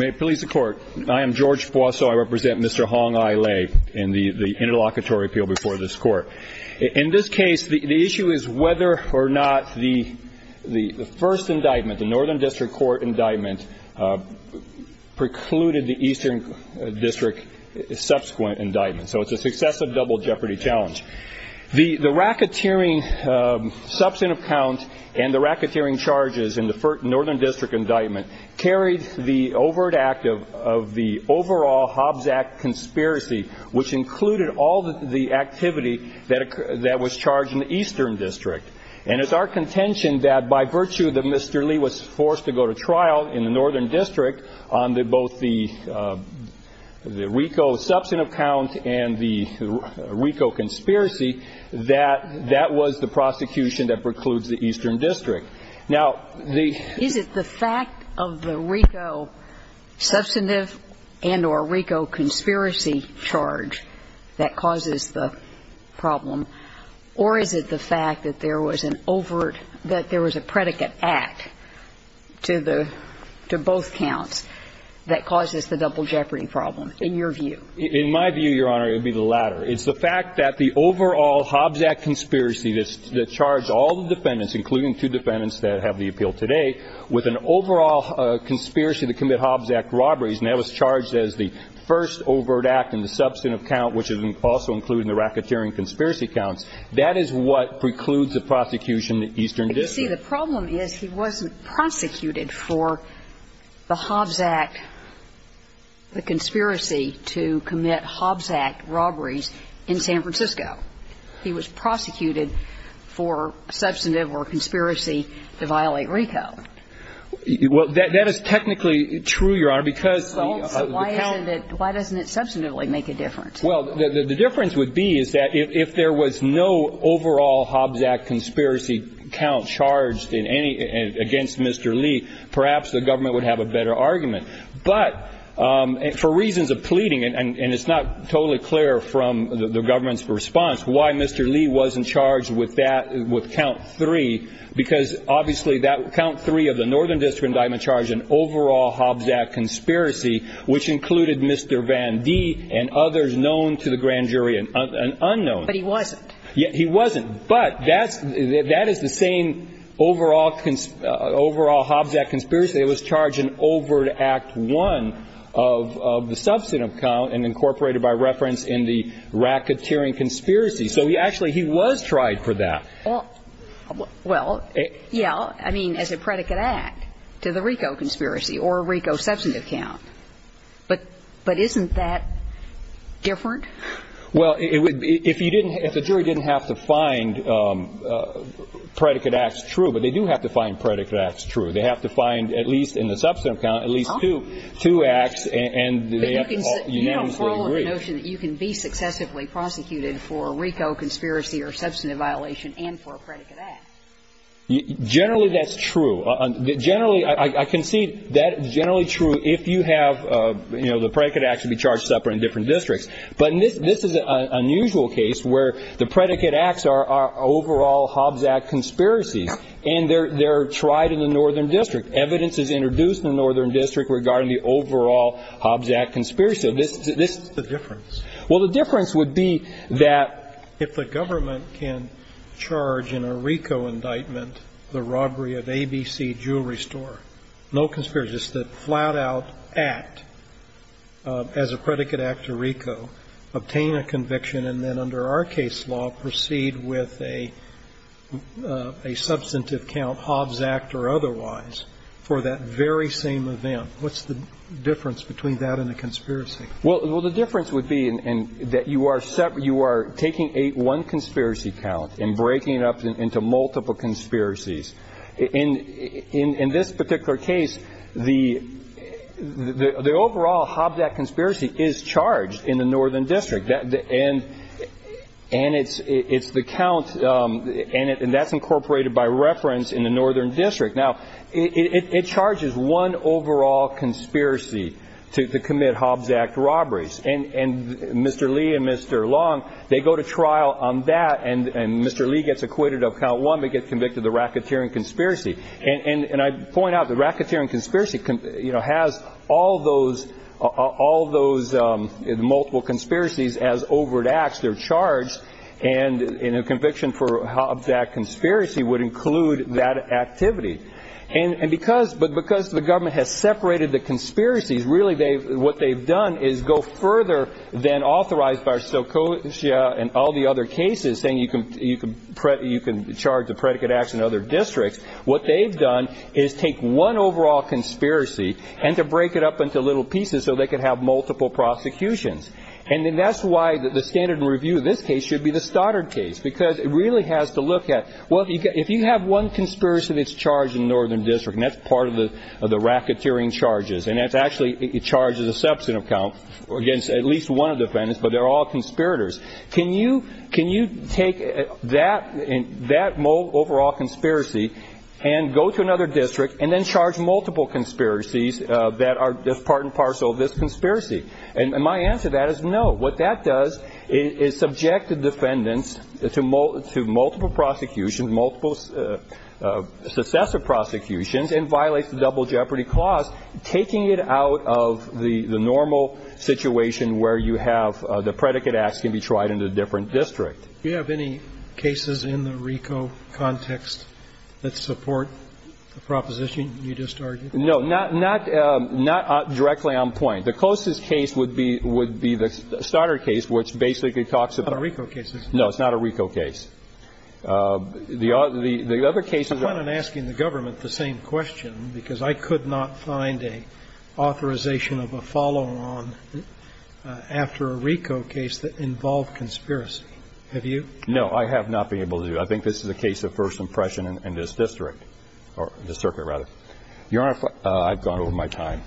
May it please the Court, I am George Boissot, I represent Mr. Hong Ai Lai in the Interlocutory Appeal before this Court. In this case, the issue is whether or not the first indictment, the Northern District Court indictment, precluded the Eastern District subsequent indictment. So it's a successive double jeopardy challenge. The racketeering substantive count and the carried the overt act of the overall Hobbs Act conspiracy, which included all the activity that was charged in the Eastern District. And it's our contention that by virtue that Mr. Lee was forced to go to trial in the Northern District on both the RICO substantive count and the RICO conspiracy, that that was the prosecution that precludes the Eastern District. Now, the ---- Is it the fact of the RICO substantive and or RICO conspiracy charge that causes the problem, or is it the fact that there was an overt, that there was a predicate act to the, to both counts that causes the double jeopardy problem, in your view? In my view, Your Honor, it would be the latter. It's the fact that the overall Hobbs Act robberies, and that was charged as the first overt act in the substantive count, which is also included in the racketeering conspiracy counts, that is what precludes the prosecution in the Eastern District. But you see, the problem is he wasn't prosecuted for the Hobbs Act, the conspiracy to commit Hobbs Act robberies in San Francisco. He was prosecuted for a substantive or a conspiracy to violate RICO. Well, that is technically true, Your Honor, because the count ---- Well, why isn't it, why doesn't it substantively make a difference? Well, the difference would be is that if there was no overall Hobbs Act conspiracy count charged in any, against Mr. Lee, perhaps the government would have a better argument. But for reasons of pleading, and it's not totally clear from the government's response, why Mr. Lee wasn't charged with that, with count 3, because obviously that count 3 of the Northern District indictment charged an overall Hobbs Act conspiracy, which included Mr. Vandee and others known to the grand jury and unknown. But he wasn't. He wasn't. But that's, that is the same overall Hobbs Act conspiracy that was charged in overt Act 1 of the substantive count and incorporated by reference in the racketeering conspiracy. So he actually, he was tried for that. Well, yeah, I mean, as a predicate act to the RICO conspiracy or RICO substantive count. But isn't that different? Well, if you didn't, if the jury didn't have to find predicate acts true, but they do have to find predicate acts true. They have to find, at least in the substantive count, at least two, two acts and they have to unanimously agree. So it's all in the notion that you can be successively prosecuted for a RICO conspiracy or substantive violation and for a predicate act. Generally, that's true. Generally, I concede that's generally true if you have, you know, the predicate acts to be charged separately in different districts. But this is an unusual case where the predicate acts are overall Hobbs Act conspiracies, and they're tried in the Northern District. Evidence is introduced in the Northern District regarding the overall Hobbs Act conspiracy. So this is the difference. Well, the difference would be that if the government can charge in a RICO indictment the robbery of ABC Jewelry Store, no conspiracy, just a flat-out act as a predicate act to RICO, obtain a conviction, and then under our case law proceed with a substantive count, Hobbs Act or otherwise, for that very same event, what's the difference between that and a conspiracy? Well, the difference would be that you are taking one conspiracy count and breaking it up into multiple conspiracies. In this particular case, the overall Hobbs Act conspiracy is charged in the Northern District, and it's the count, and that's incorporated by reference in the Northern District. Now, it charges one overall conspiracy to commit Hobbs Act robberies. And Mr. Lee and Mr. Long, they go to trial on that, and Mr. Lee gets acquitted of count one, but gets convicted of the racketeering conspiracy. And I point out, the racketeering conspiracy has all those multiple conspiracies as overt acts. They're charged, and a conviction for Hobbs Act conspiracy would include that activity. And because the government has separated the conspiracies, really what they've done is go further than authorized by Stokosia and all the other cases, saying you can charge a predicate act in other districts. What they've done is take one overall conspiracy and to break it up into little pieces so they could have multiple prosecutions. And that's why the standard review of this case should be the Stoddard case, because it really has to look at, well, if you have one conspiracy that's charged in the Northern District, and that's part of the racketeering charges, and it's actually charged as a substantive count against at least one of the defendants, but they're all conspirators. Can you take that overall conspiracy and go to another district and then charge multiple conspiracies that are part and parcel of this conspiracy? And my answer to that is no. What that does is subject the defendants to multiple prosecutions, multiple successive prosecutions, and violates the double jeopardy clause, taking it out of the normal situation where you have the predicate act can be tried in a different district. Do you have any cases in the RICO context that support the proposition you just argued? No, not directly on point. The closest case would be the Stoddard case, which basically talks about the RICO case. No, it's not a RICO case. The other cases are the same. I'm asking the government the same question, because I could not find an authorization of a follow-on after a RICO case that involved conspiracy. Have you? No, I have not been able to. I think this is a case of first impression in this district, or this circuit, rather. Your Honor, I've gone over my time.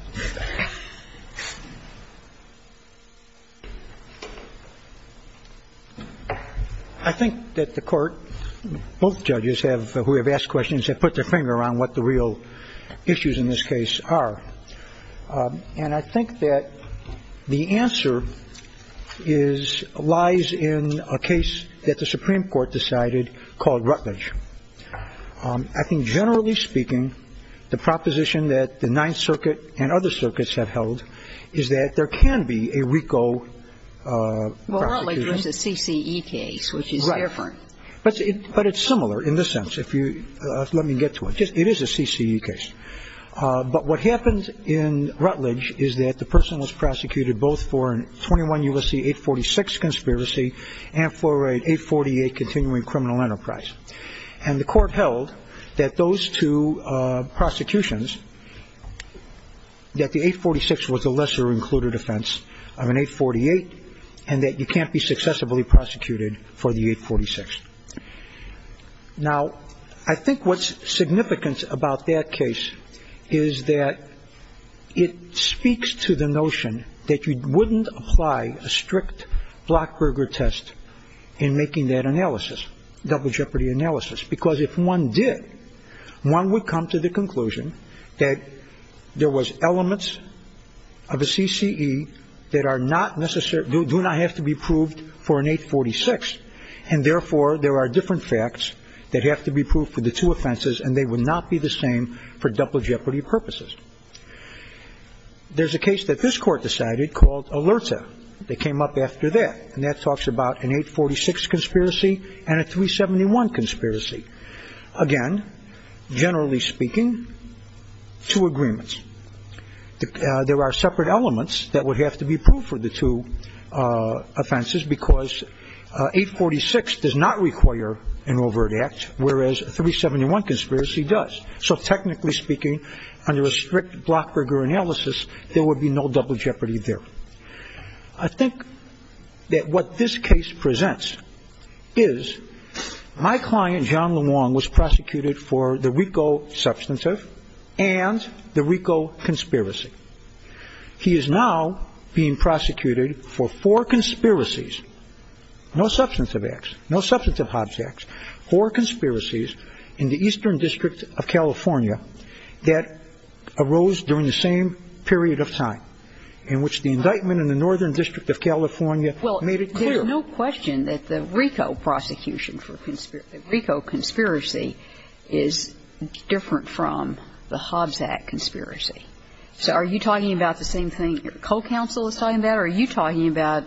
I think that the court, both judges who have asked questions, have put their finger around what the real issues in this case are. And I think that the answer lies in a case that the Supreme Court decided called Rutledge. I think, generally speaking, the proposition that the Ninth Circuit and other circuits have held is that there can be a RICO. Well, Rutledge was a CCE case, which is different. But it's similar in this sense, if you let me get to it. It is a CCE case. But what happens in Rutledge is that the person is prosecuted both for a 21 U.S.C. 846 conspiracy and for a 848 continuing criminal enterprise. And the court held that those two prosecutions, that the 846 was a lesser included offense of an 848, and that you can't be successively prosecuted for the 846. Now, I think what's significant about that case is that it speaks to the notion that you wouldn't apply a strict Blockberger test in making that analysis. Double jeopardy analysis. Because if one did, one would come to the conclusion that there was elements of a CCE that do not have to be proved for an 846. And therefore, there are different facts that have to be proved for the two offenses. And they would not be the same for double jeopardy purposes. There's a case that this court decided called Alerta that came up after that. And that talks about an 846 conspiracy and a 371 conspiracy. Again, generally speaking, two agreements. There are separate elements that would have to be proved for the two offenses because 846 does not require an overt act, whereas a 371 conspiracy does. So technically speaking, under a strict Blockberger analysis, there would be no double jeopardy there. I think that what this case presents is my client, John LeWong, was prosecuted for the RICO substantive and the RICO conspiracy. He is now being prosecuted for four conspiracies, no substantive acts, no substantive Hobbs acts, four conspiracies in the Eastern District of California that arose during the same period of time in which the indictment in the Northern District of California made it clear. There's no question that the RICO prosecution for RICO conspiracy is different from the Hobbs Act conspiracy. So are you talking about the same thing your co-counsel is talking about? Or are you talking about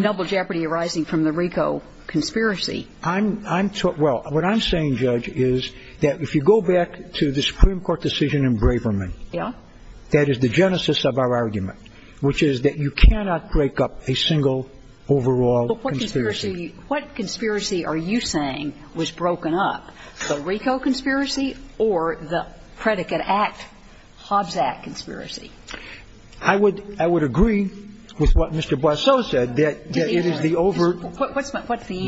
double jeopardy arising from the RICO conspiracy? I'm talking – well, what I'm saying, Judge, is that if you go back to the Supreme Court decision in Braverman, that is the genesis of our argument, which is that you cannot break up a single overall conspiracy. But what conspiracy are you saying was broken up, the RICO conspiracy or the predicate act Hobbs Act conspiracy? I would agree with what Mr. Boisseau said, that it is the overt – What's the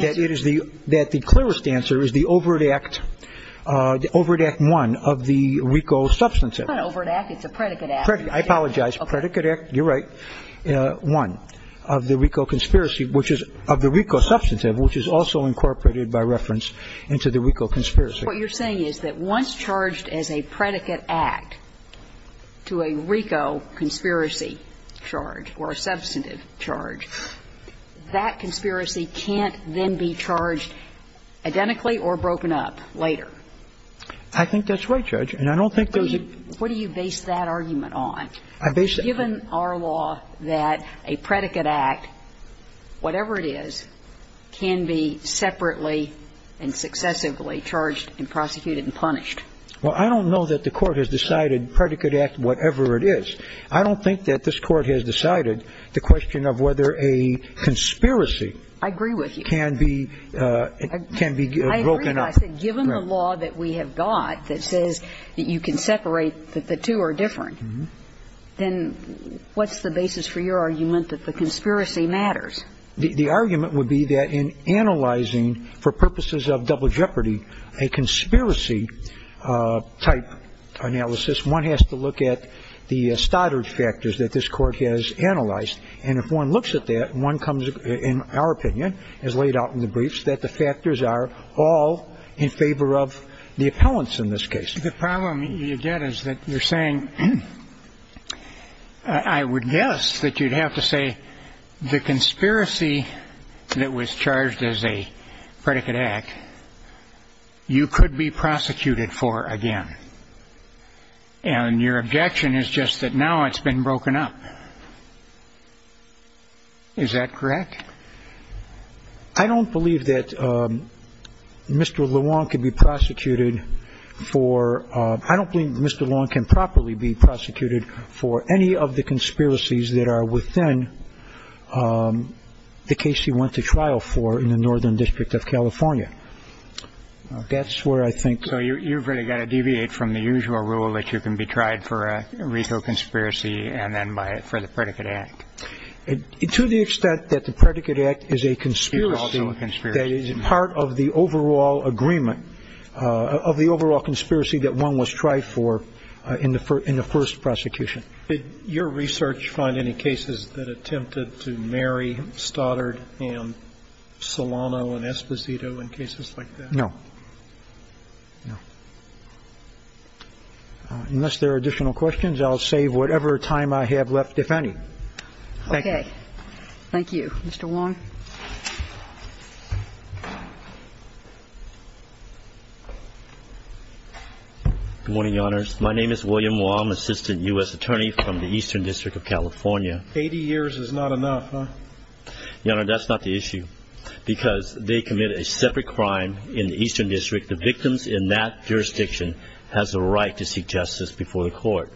answer? That it is the – that the clearest answer is the overt act – overt act one of the RICO substantive. It's not an overt act. It's a predicate act. I apologize. A predicate act, you're right, one of the RICO conspiracy, which is – of the RICO substantive, which is also incorporated by reference into the RICO conspiracy. What you're saying is that once charged as a predicate act to a RICO conspiracy charge or a substantive charge, that conspiracy can't then be charged identically or broken up later. I think that's right, Judge, and I don't think there's a – I mean, what do you base that argument on, given our law that a predicate act, whatever it is, can be separately and successively charged and prosecuted and punished? Well, I don't know that the Court has decided predicate act whatever it is. I don't think that this Court has decided the question of whether a conspiracy can be – can be broken up. I agree with you. I said given the law that we have got that says that you can separate, that the two are different, then what's the basis for your argument that the conspiracy matters? The argument would be that in analyzing, for purposes of double jeopardy, a conspiracy type analysis, one has to look at the stoddard factors that this Court has analyzed. And if one looks at that, one comes – in our opinion, as laid out in the briefs, that the factors are all in favor of the appellants in this case. The problem you get is that you're saying – I would guess that you'd have to say that the conspiracy that was charged as a predicate act, you could be prosecuted for again. And your objection is just that now it's been broken up. Is that correct? I don't believe that Mr. Lewong can be prosecuted for – I don't believe that Mr. Lewong can properly be prosecuted for any of the conspiracies that are within the case he went to trial for in the Northern District of California. That's where I think – So you've really got to deviate from the usual rule that you can be tried for a RICO conspiracy and then by – for the predicate act. To the extent that the predicate act is a conspiracy, that is part of the overall agreement of the overall conspiracy that one was tried for in the first prosecution. Did your research find any cases that attempted to marry Stoddard and Solano and Esposito in cases like that? No. No. Unless there are additional questions, I'll save whatever time I have left if any. Okay. Thank you. Mr. Lewong? Good morning, Your Honors. My name is William Wong, Assistant U.S. Attorney from the Eastern District of California. Eighty years is not enough, huh? Your Honor, that's not the issue because they committed a separate crime in the Eastern District. The victims in that jurisdiction has a right to seek justice before the court.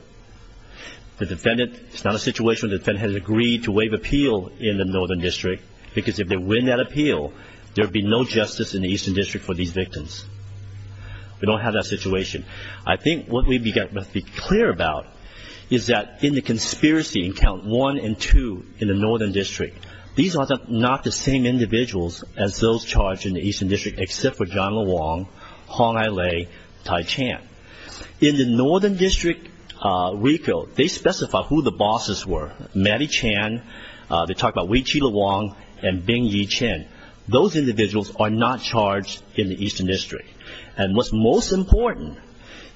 The defendant – it's not a situation where the defendant has agreed to waive appeal in the Northern District because if they win that appeal, there would be no justice in the Northern District. We don't have that situation. I think what we must be clear about is that in the conspiracy in Count 1 and 2 in the Northern District, these are not the same individuals as those charged in the Eastern District except for John Lewong, Hong Ai Lei, Tai Chan. In the Northern District recall, they specify who the bosses were. Maddy Chan, they talk about Wei-Chi Lewong, and Bing-Yi Chen. Those individuals are not charged in the Eastern District. And what's most important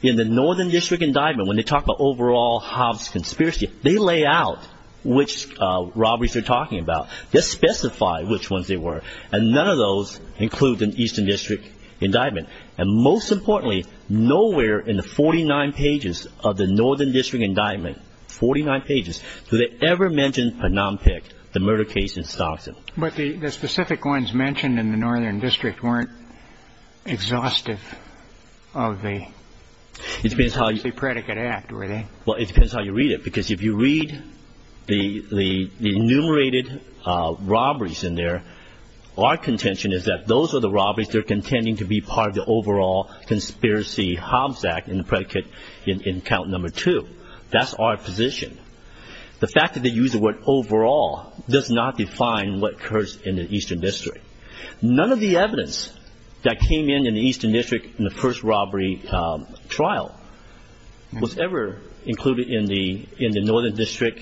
in the Northern District indictment, when they talk about overall Hobbs conspiracy, they lay out which robberies they're talking about. They specify which ones they were. And none of those include the Eastern District indictment. And most importantly, nowhere in the 49 pages of the Northern District indictment – 49 pages – do they ever mention Phnom Penh, the murder case in Stockton. But the specific ones mentioned in the Northern District weren't exhaustive of the… It depends how you read it. Because if you read the enumerated robberies in there, our contention is that those are the robberies that are contending to be part of the overall conspiracy Hobbs Act in the predicate in Count 2. That's our position. The fact that they use the word overall does not define what occurs in the Eastern District. None of the evidence that came in in the Eastern District in the first robbery trial was ever included in the Northern District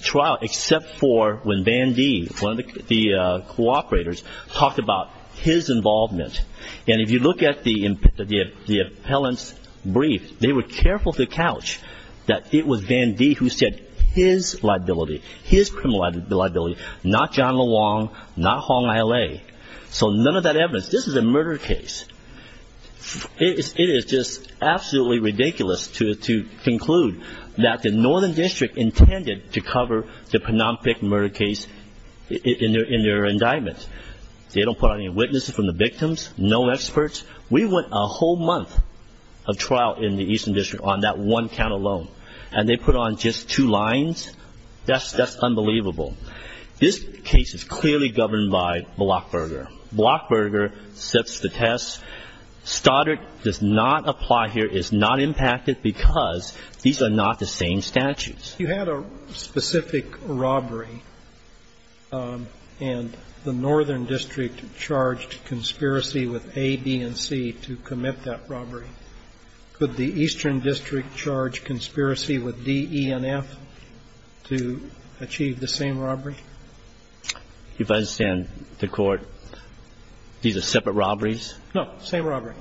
trial except for when Van D, one of the cooperators, talked about his involvement. And if you look at the appellant's brief, they were careful to couch that it was Van D who said his liability, his criminal liability, not John LeWong, not Hong Aile. So none of that evidence. This is a murder case. It is just absolutely ridiculous to conclude that the Northern District intended to cover the Phnom Penh murder case in their indictment. They don't put out any witnesses from the victims, no experts. We went a whole month of trial in the Eastern District on that one count alone. And they put on just two lines? That's unbelievable. This case is clearly governed by Blockberger. Blockberger sets the test. Stoddard does not apply here, is not impacted, because these are not the same statutes. You had a specific robbery, and the Northern District charged conspiracy with A, B, and C to commit that robbery. Could the Eastern District charge conspiracy with D, E, and F to achieve the same robbery? If I understand the Court, these are separate robberies? No, same robbery.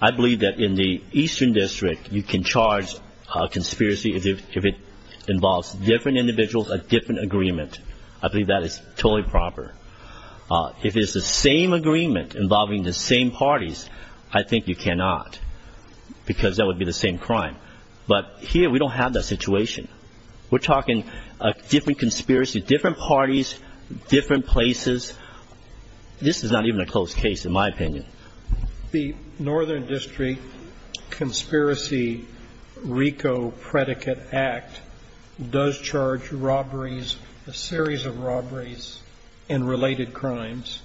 I believe that in the Eastern District, you can charge conspiracy if it involves different individuals, a different agreement. I believe that is totally proper. If it's the same agreement involving the same parties, I think you cannot, because that would be the same crime. But here, we don't have that situation. We're talking a different conspiracy, different parties, different places. This is not even a closed case, in my opinion. The Northern District Conspiracy RICO Predicate Act does charge robberies, a series of robberies, and related crimes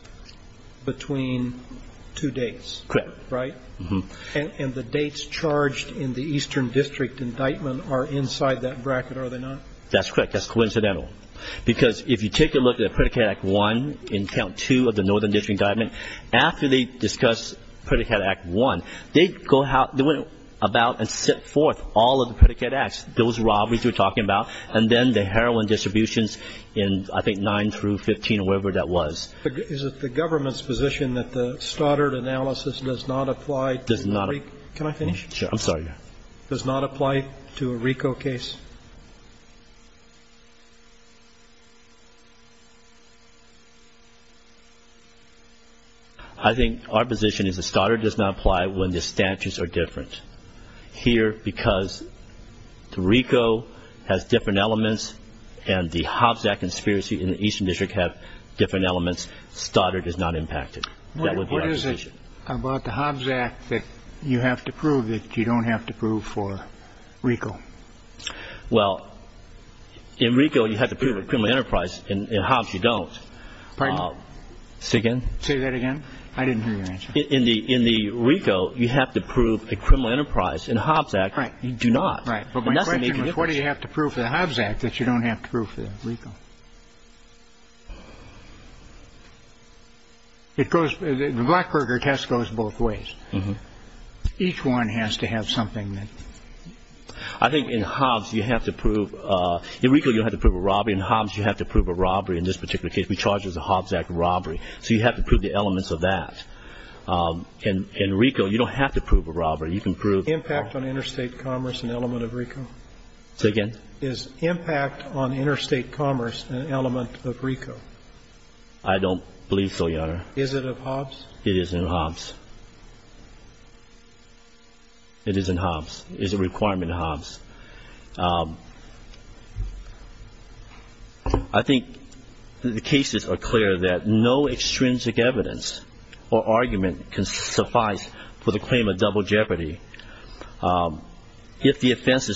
between two dates. Correct. Right? Uh-huh. And the dates charged in the Eastern District indictment are inside that bracket, are they not? That's correct. That's coincidental. Because if you take a look at Predicate Act 1 in Count 2 of the Northern District indictment, after they discuss Predicate Act 1, they go out, they went about and set forth all of the predicate acts, those robberies we're talking about, and then the heroin distributions in, I think, 9 through 15 or wherever that was. Is it the government's position that the Stoddard analysis does not apply to the RICO? Can I finish? Sure. I'm sorry. Does not apply to a RICO case? I think our position is that Stoddard does not apply when the statutes are different. Here, because the RICO has different elements and the Hobbs Act Conspiracy in the Eastern District have different elements, Stoddard is not impacted. What is it about the Hobbs Act that you have to prove that you don't have to prove for RICO? Well, in RICO, you have to prove a criminal enterprise. In Hobbs, you don't. Pardon? Say that again? I didn't hear your answer. In the RICO, you have to prove a criminal enterprise. In Hobbs Act, you do not. Right. But my question was, what do you have to prove for the Hobbs Act that you don't have to prove for RICO? The Blackberger test goes both ways. Each one has to have something that... I think in Hobbs, you have to prove... In RICO, you don't have to prove a robbery. In Hobbs, you have to prove a robbery. In this particular case, we charge it as a Hobbs Act robbery. So you have to prove the elements of that. In RICO, you don't have to prove a robbery. You can prove... Impact on interstate commerce, an element of RICO? Say again? Is impact on interstate commerce an element of RICO? I don't believe so, Your Honor. Is it of Hobbs? It is in Hobbs. It is in Hobbs. It is a requirement in Hobbs. I think the cases are clear that no extrinsic evidence or argument can suffice for the claim of double jeopardy. If the offense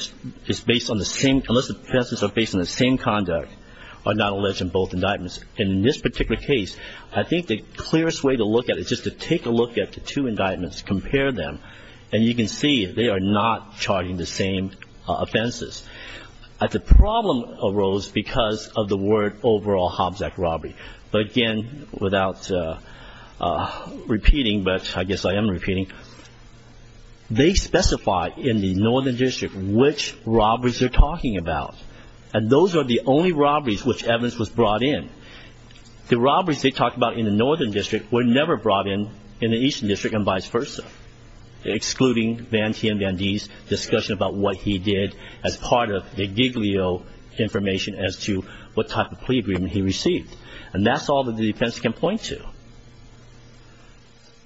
is based on the same... Unless the offenses are based on the same conduct, are not alleged in both indictments. And in this particular case, I think the clearest way to look at it is just to take a look at the two indictments, compare them. And you can see they are not charging the same offenses. But the problem arose because of the word overall Hobbs Act robbery. But again, without repeating, but I guess I am repeating. They specify in the Northern District which robberies they're talking about. And those are the only robberies which evidence was brought in. The robberies they talked about in the Northern District were never brought in in the Eastern District and vice versa. Excluding Van T and Van D's discussion about what he did as part of the Giglio information as to what type of plea agreement he received. And that's all that the defense can point to.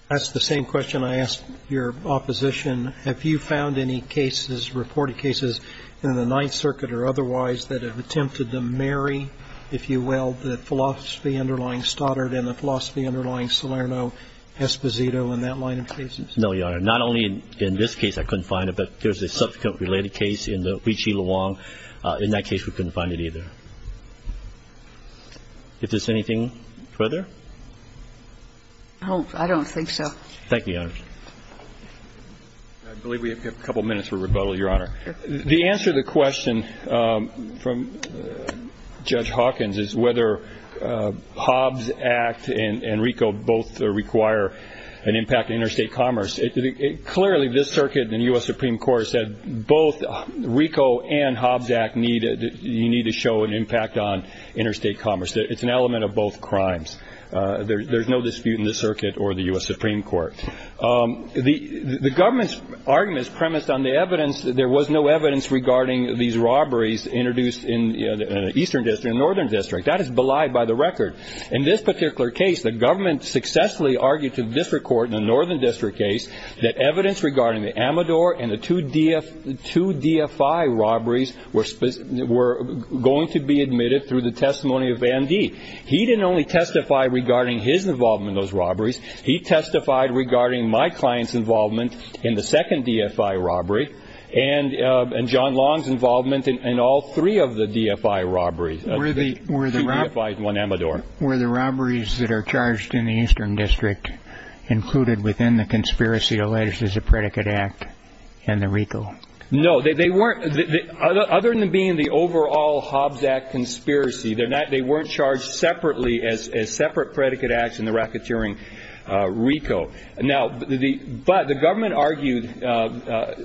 That's the same question I asked your opposition. Have you found any cases, reported cases, in the Ninth Circuit or otherwise that have attempted to marry, if you will, the philosophy underlying Stoddard and the philosophy underlying Salerno, Esposito and that line of cases? No, Your Honor. Not only in this case I couldn't find it, but there's a subsequent related case in the Huichi Luang. In that case, we couldn't find it either. If there's anything further? Oh, I don't think so. Thank you, Your Honor. I believe we have a couple minutes for rebuttal, Your Honor. The answer to the question from Judge Hawkins is whether Hobbs Act and RICO both require an impact on interstate commerce. Clearly, this circuit and the U.S. Supreme Court have said both RICO and Hobbs Act need to show an impact on interstate commerce. It's an element of both crimes. There's no dispute in this circuit or the U.S. Supreme Court. The government's argument is premised on the evidence that there was no evidence regarding these robberies introduced in the Eastern District and Northern District. That is belied by the record. In this particular case, the government successfully argued to the District Court in the Northern District case that evidence regarding the Amador and the two DFI robberies were going to be admitted through the testimony of Van Dee. He didn't only testify regarding his involvement in those robberies. He testified regarding my client's involvement in the second DFI robbery and John Long's involvement in all three of the DFI robberies. Were the robberies that are charged in the Eastern District included within the conspiracy alleged as a predicate act and the RICO? No, they weren't. Other than being the overall Hobbs Act conspiracy, they weren't charged separately as separate predicate acts in the racketeering RICO. But the government argued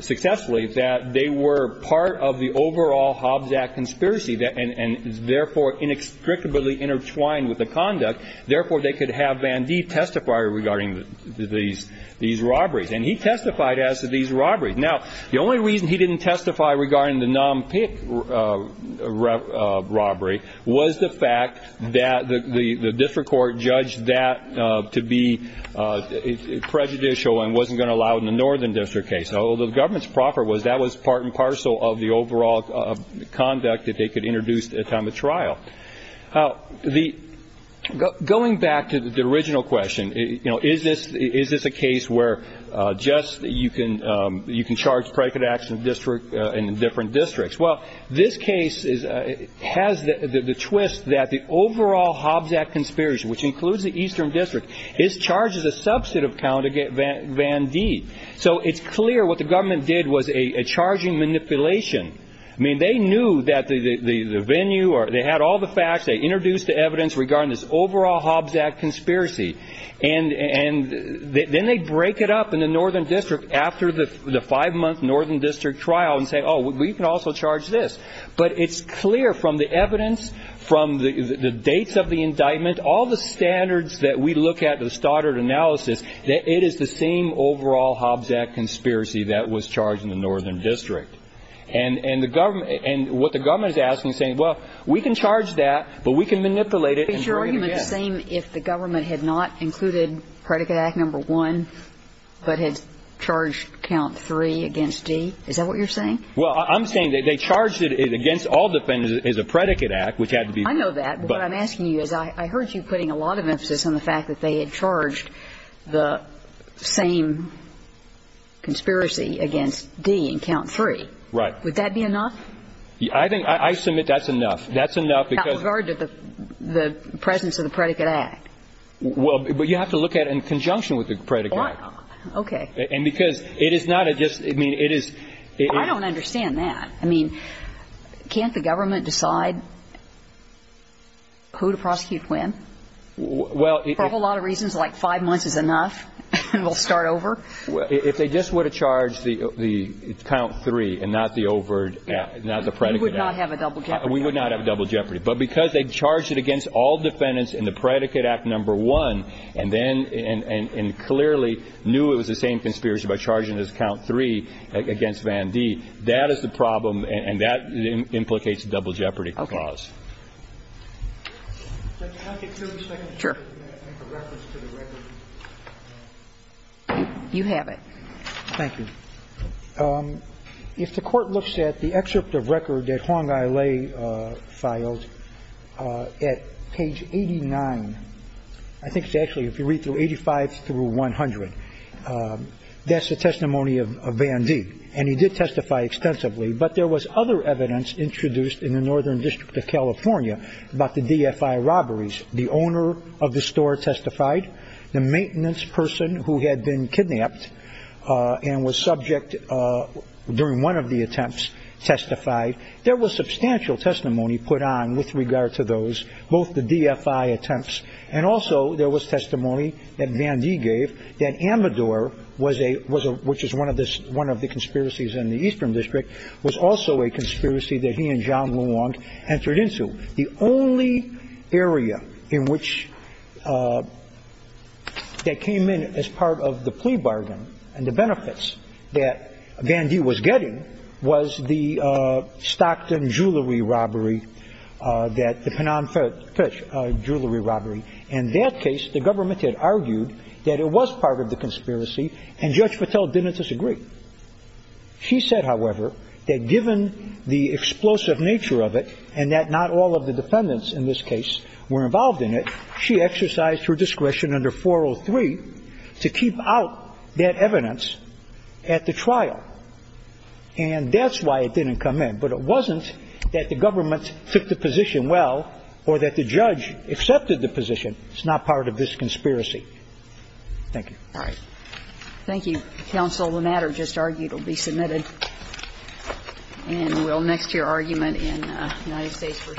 successfully that they were part of the overall Hobbs Act conspiracy and, therefore, inextricably intertwined with the conduct. Therefore, they could have Van Dee testify regarding these robberies. And he testified as to these robberies. Now, the only reason he didn't testify regarding the NAMPIC robbery was the fact that the District Court judged that to be prejudicial and wasn't going to allow it in the Northern District case. Although the government's proffer was that was part and parcel of the overall conduct that they could introduce at time of trial. Going back to the original question, is this a case where just you can charge predicate acts in different districts? Well, this case has the twist that the overall Hobbs Act conspiracy, which includes the Eastern District, is charged as a subset of count against Van Dee. So it's clear what the government did was a charging manipulation. I mean, they knew that the venue or they had all the facts. They introduced the evidence regarding this overall Hobbs Act conspiracy. And then they break it up in the Northern District after the five month Northern District trial and say, oh, we can also charge this. But it's clear from the evidence, from the dates of the indictment, all the standards that we look at, the stoddard analysis, that it is the same overall Hobbs Act conspiracy that was charged in the Northern District. And the government and what the government is asking is saying, well, we can charge that, but we can manipulate it. Is your argument the same if the government had not included predicate act number one, but had charged count three against D? Is that what you're saying? Well, I'm saying that they charged it against all defendants as a predicate act, which had to be. I know that. But I'm asking you as I heard you putting a lot of emphasis on the fact that they had charged the same. Conspiracy against D and count three. Right. Would that be enough? I think I submit that's enough. That's enough because the presence of the predicate act. Well, but you have to look at it in conjunction with the predicate. OK. And because it is not just I mean, it is. I don't understand that. I mean, can't the government decide who to prosecute when? Well, for a lot of reasons, like five months is enough. And we'll start over. If they just would have charged the count three and not the overt, not the predicate act. We would not have a double jeopardy. We would not have a double jeopardy. But because they charged it against all defendants in the predicate act number one and then and clearly knew it was the same conspiracy by charging this count three against Van D. That is the problem. And that implicates a double jeopardy clause. Can I get two seconds to make a reference to the record? You have it. Thank you. If the court looks at the excerpt of record that Huang Ai Lei filed at page 89, I think it's actually if you read through 85 through 100, that's the testimony of Van D. And he did testify extensively. But there was other evidence introduced in the Northern District of California about the DFI robberies. The owner of the store testified. The maintenance person who had been kidnapped and was subject during one of the attempts testified. There was substantial testimony put on with regard to those, both the DFI attempts. And also there was testimony that Van D. gave that Amador was a was a which is one of this. One of the conspiracies in the Eastern District was also a conspiracy that he and John Wong entered into. The only area in which that came in as part of the plea bargain and the benefits that Van D. was getting was the Stockton jewelry robbery that the Penan fish jewelry robbery. In that case, the government had argued that it was part of the conspiracy and Judge Patel didn't disagree. She said, however, that given the explosive nature of it and that not all of the defendants in this case were involved in it, she exercised her discretion under 403 to keep out that evidence at the trial. And that's why it didn't come in. But it wasn't that the government took the position well or that the judge accepted the position. It's not part of this conspiracy. Thank you. All right. Thank you, counsel. The matter just argued will be submitted and will next to your argument in United States v. Sanders. Thank you.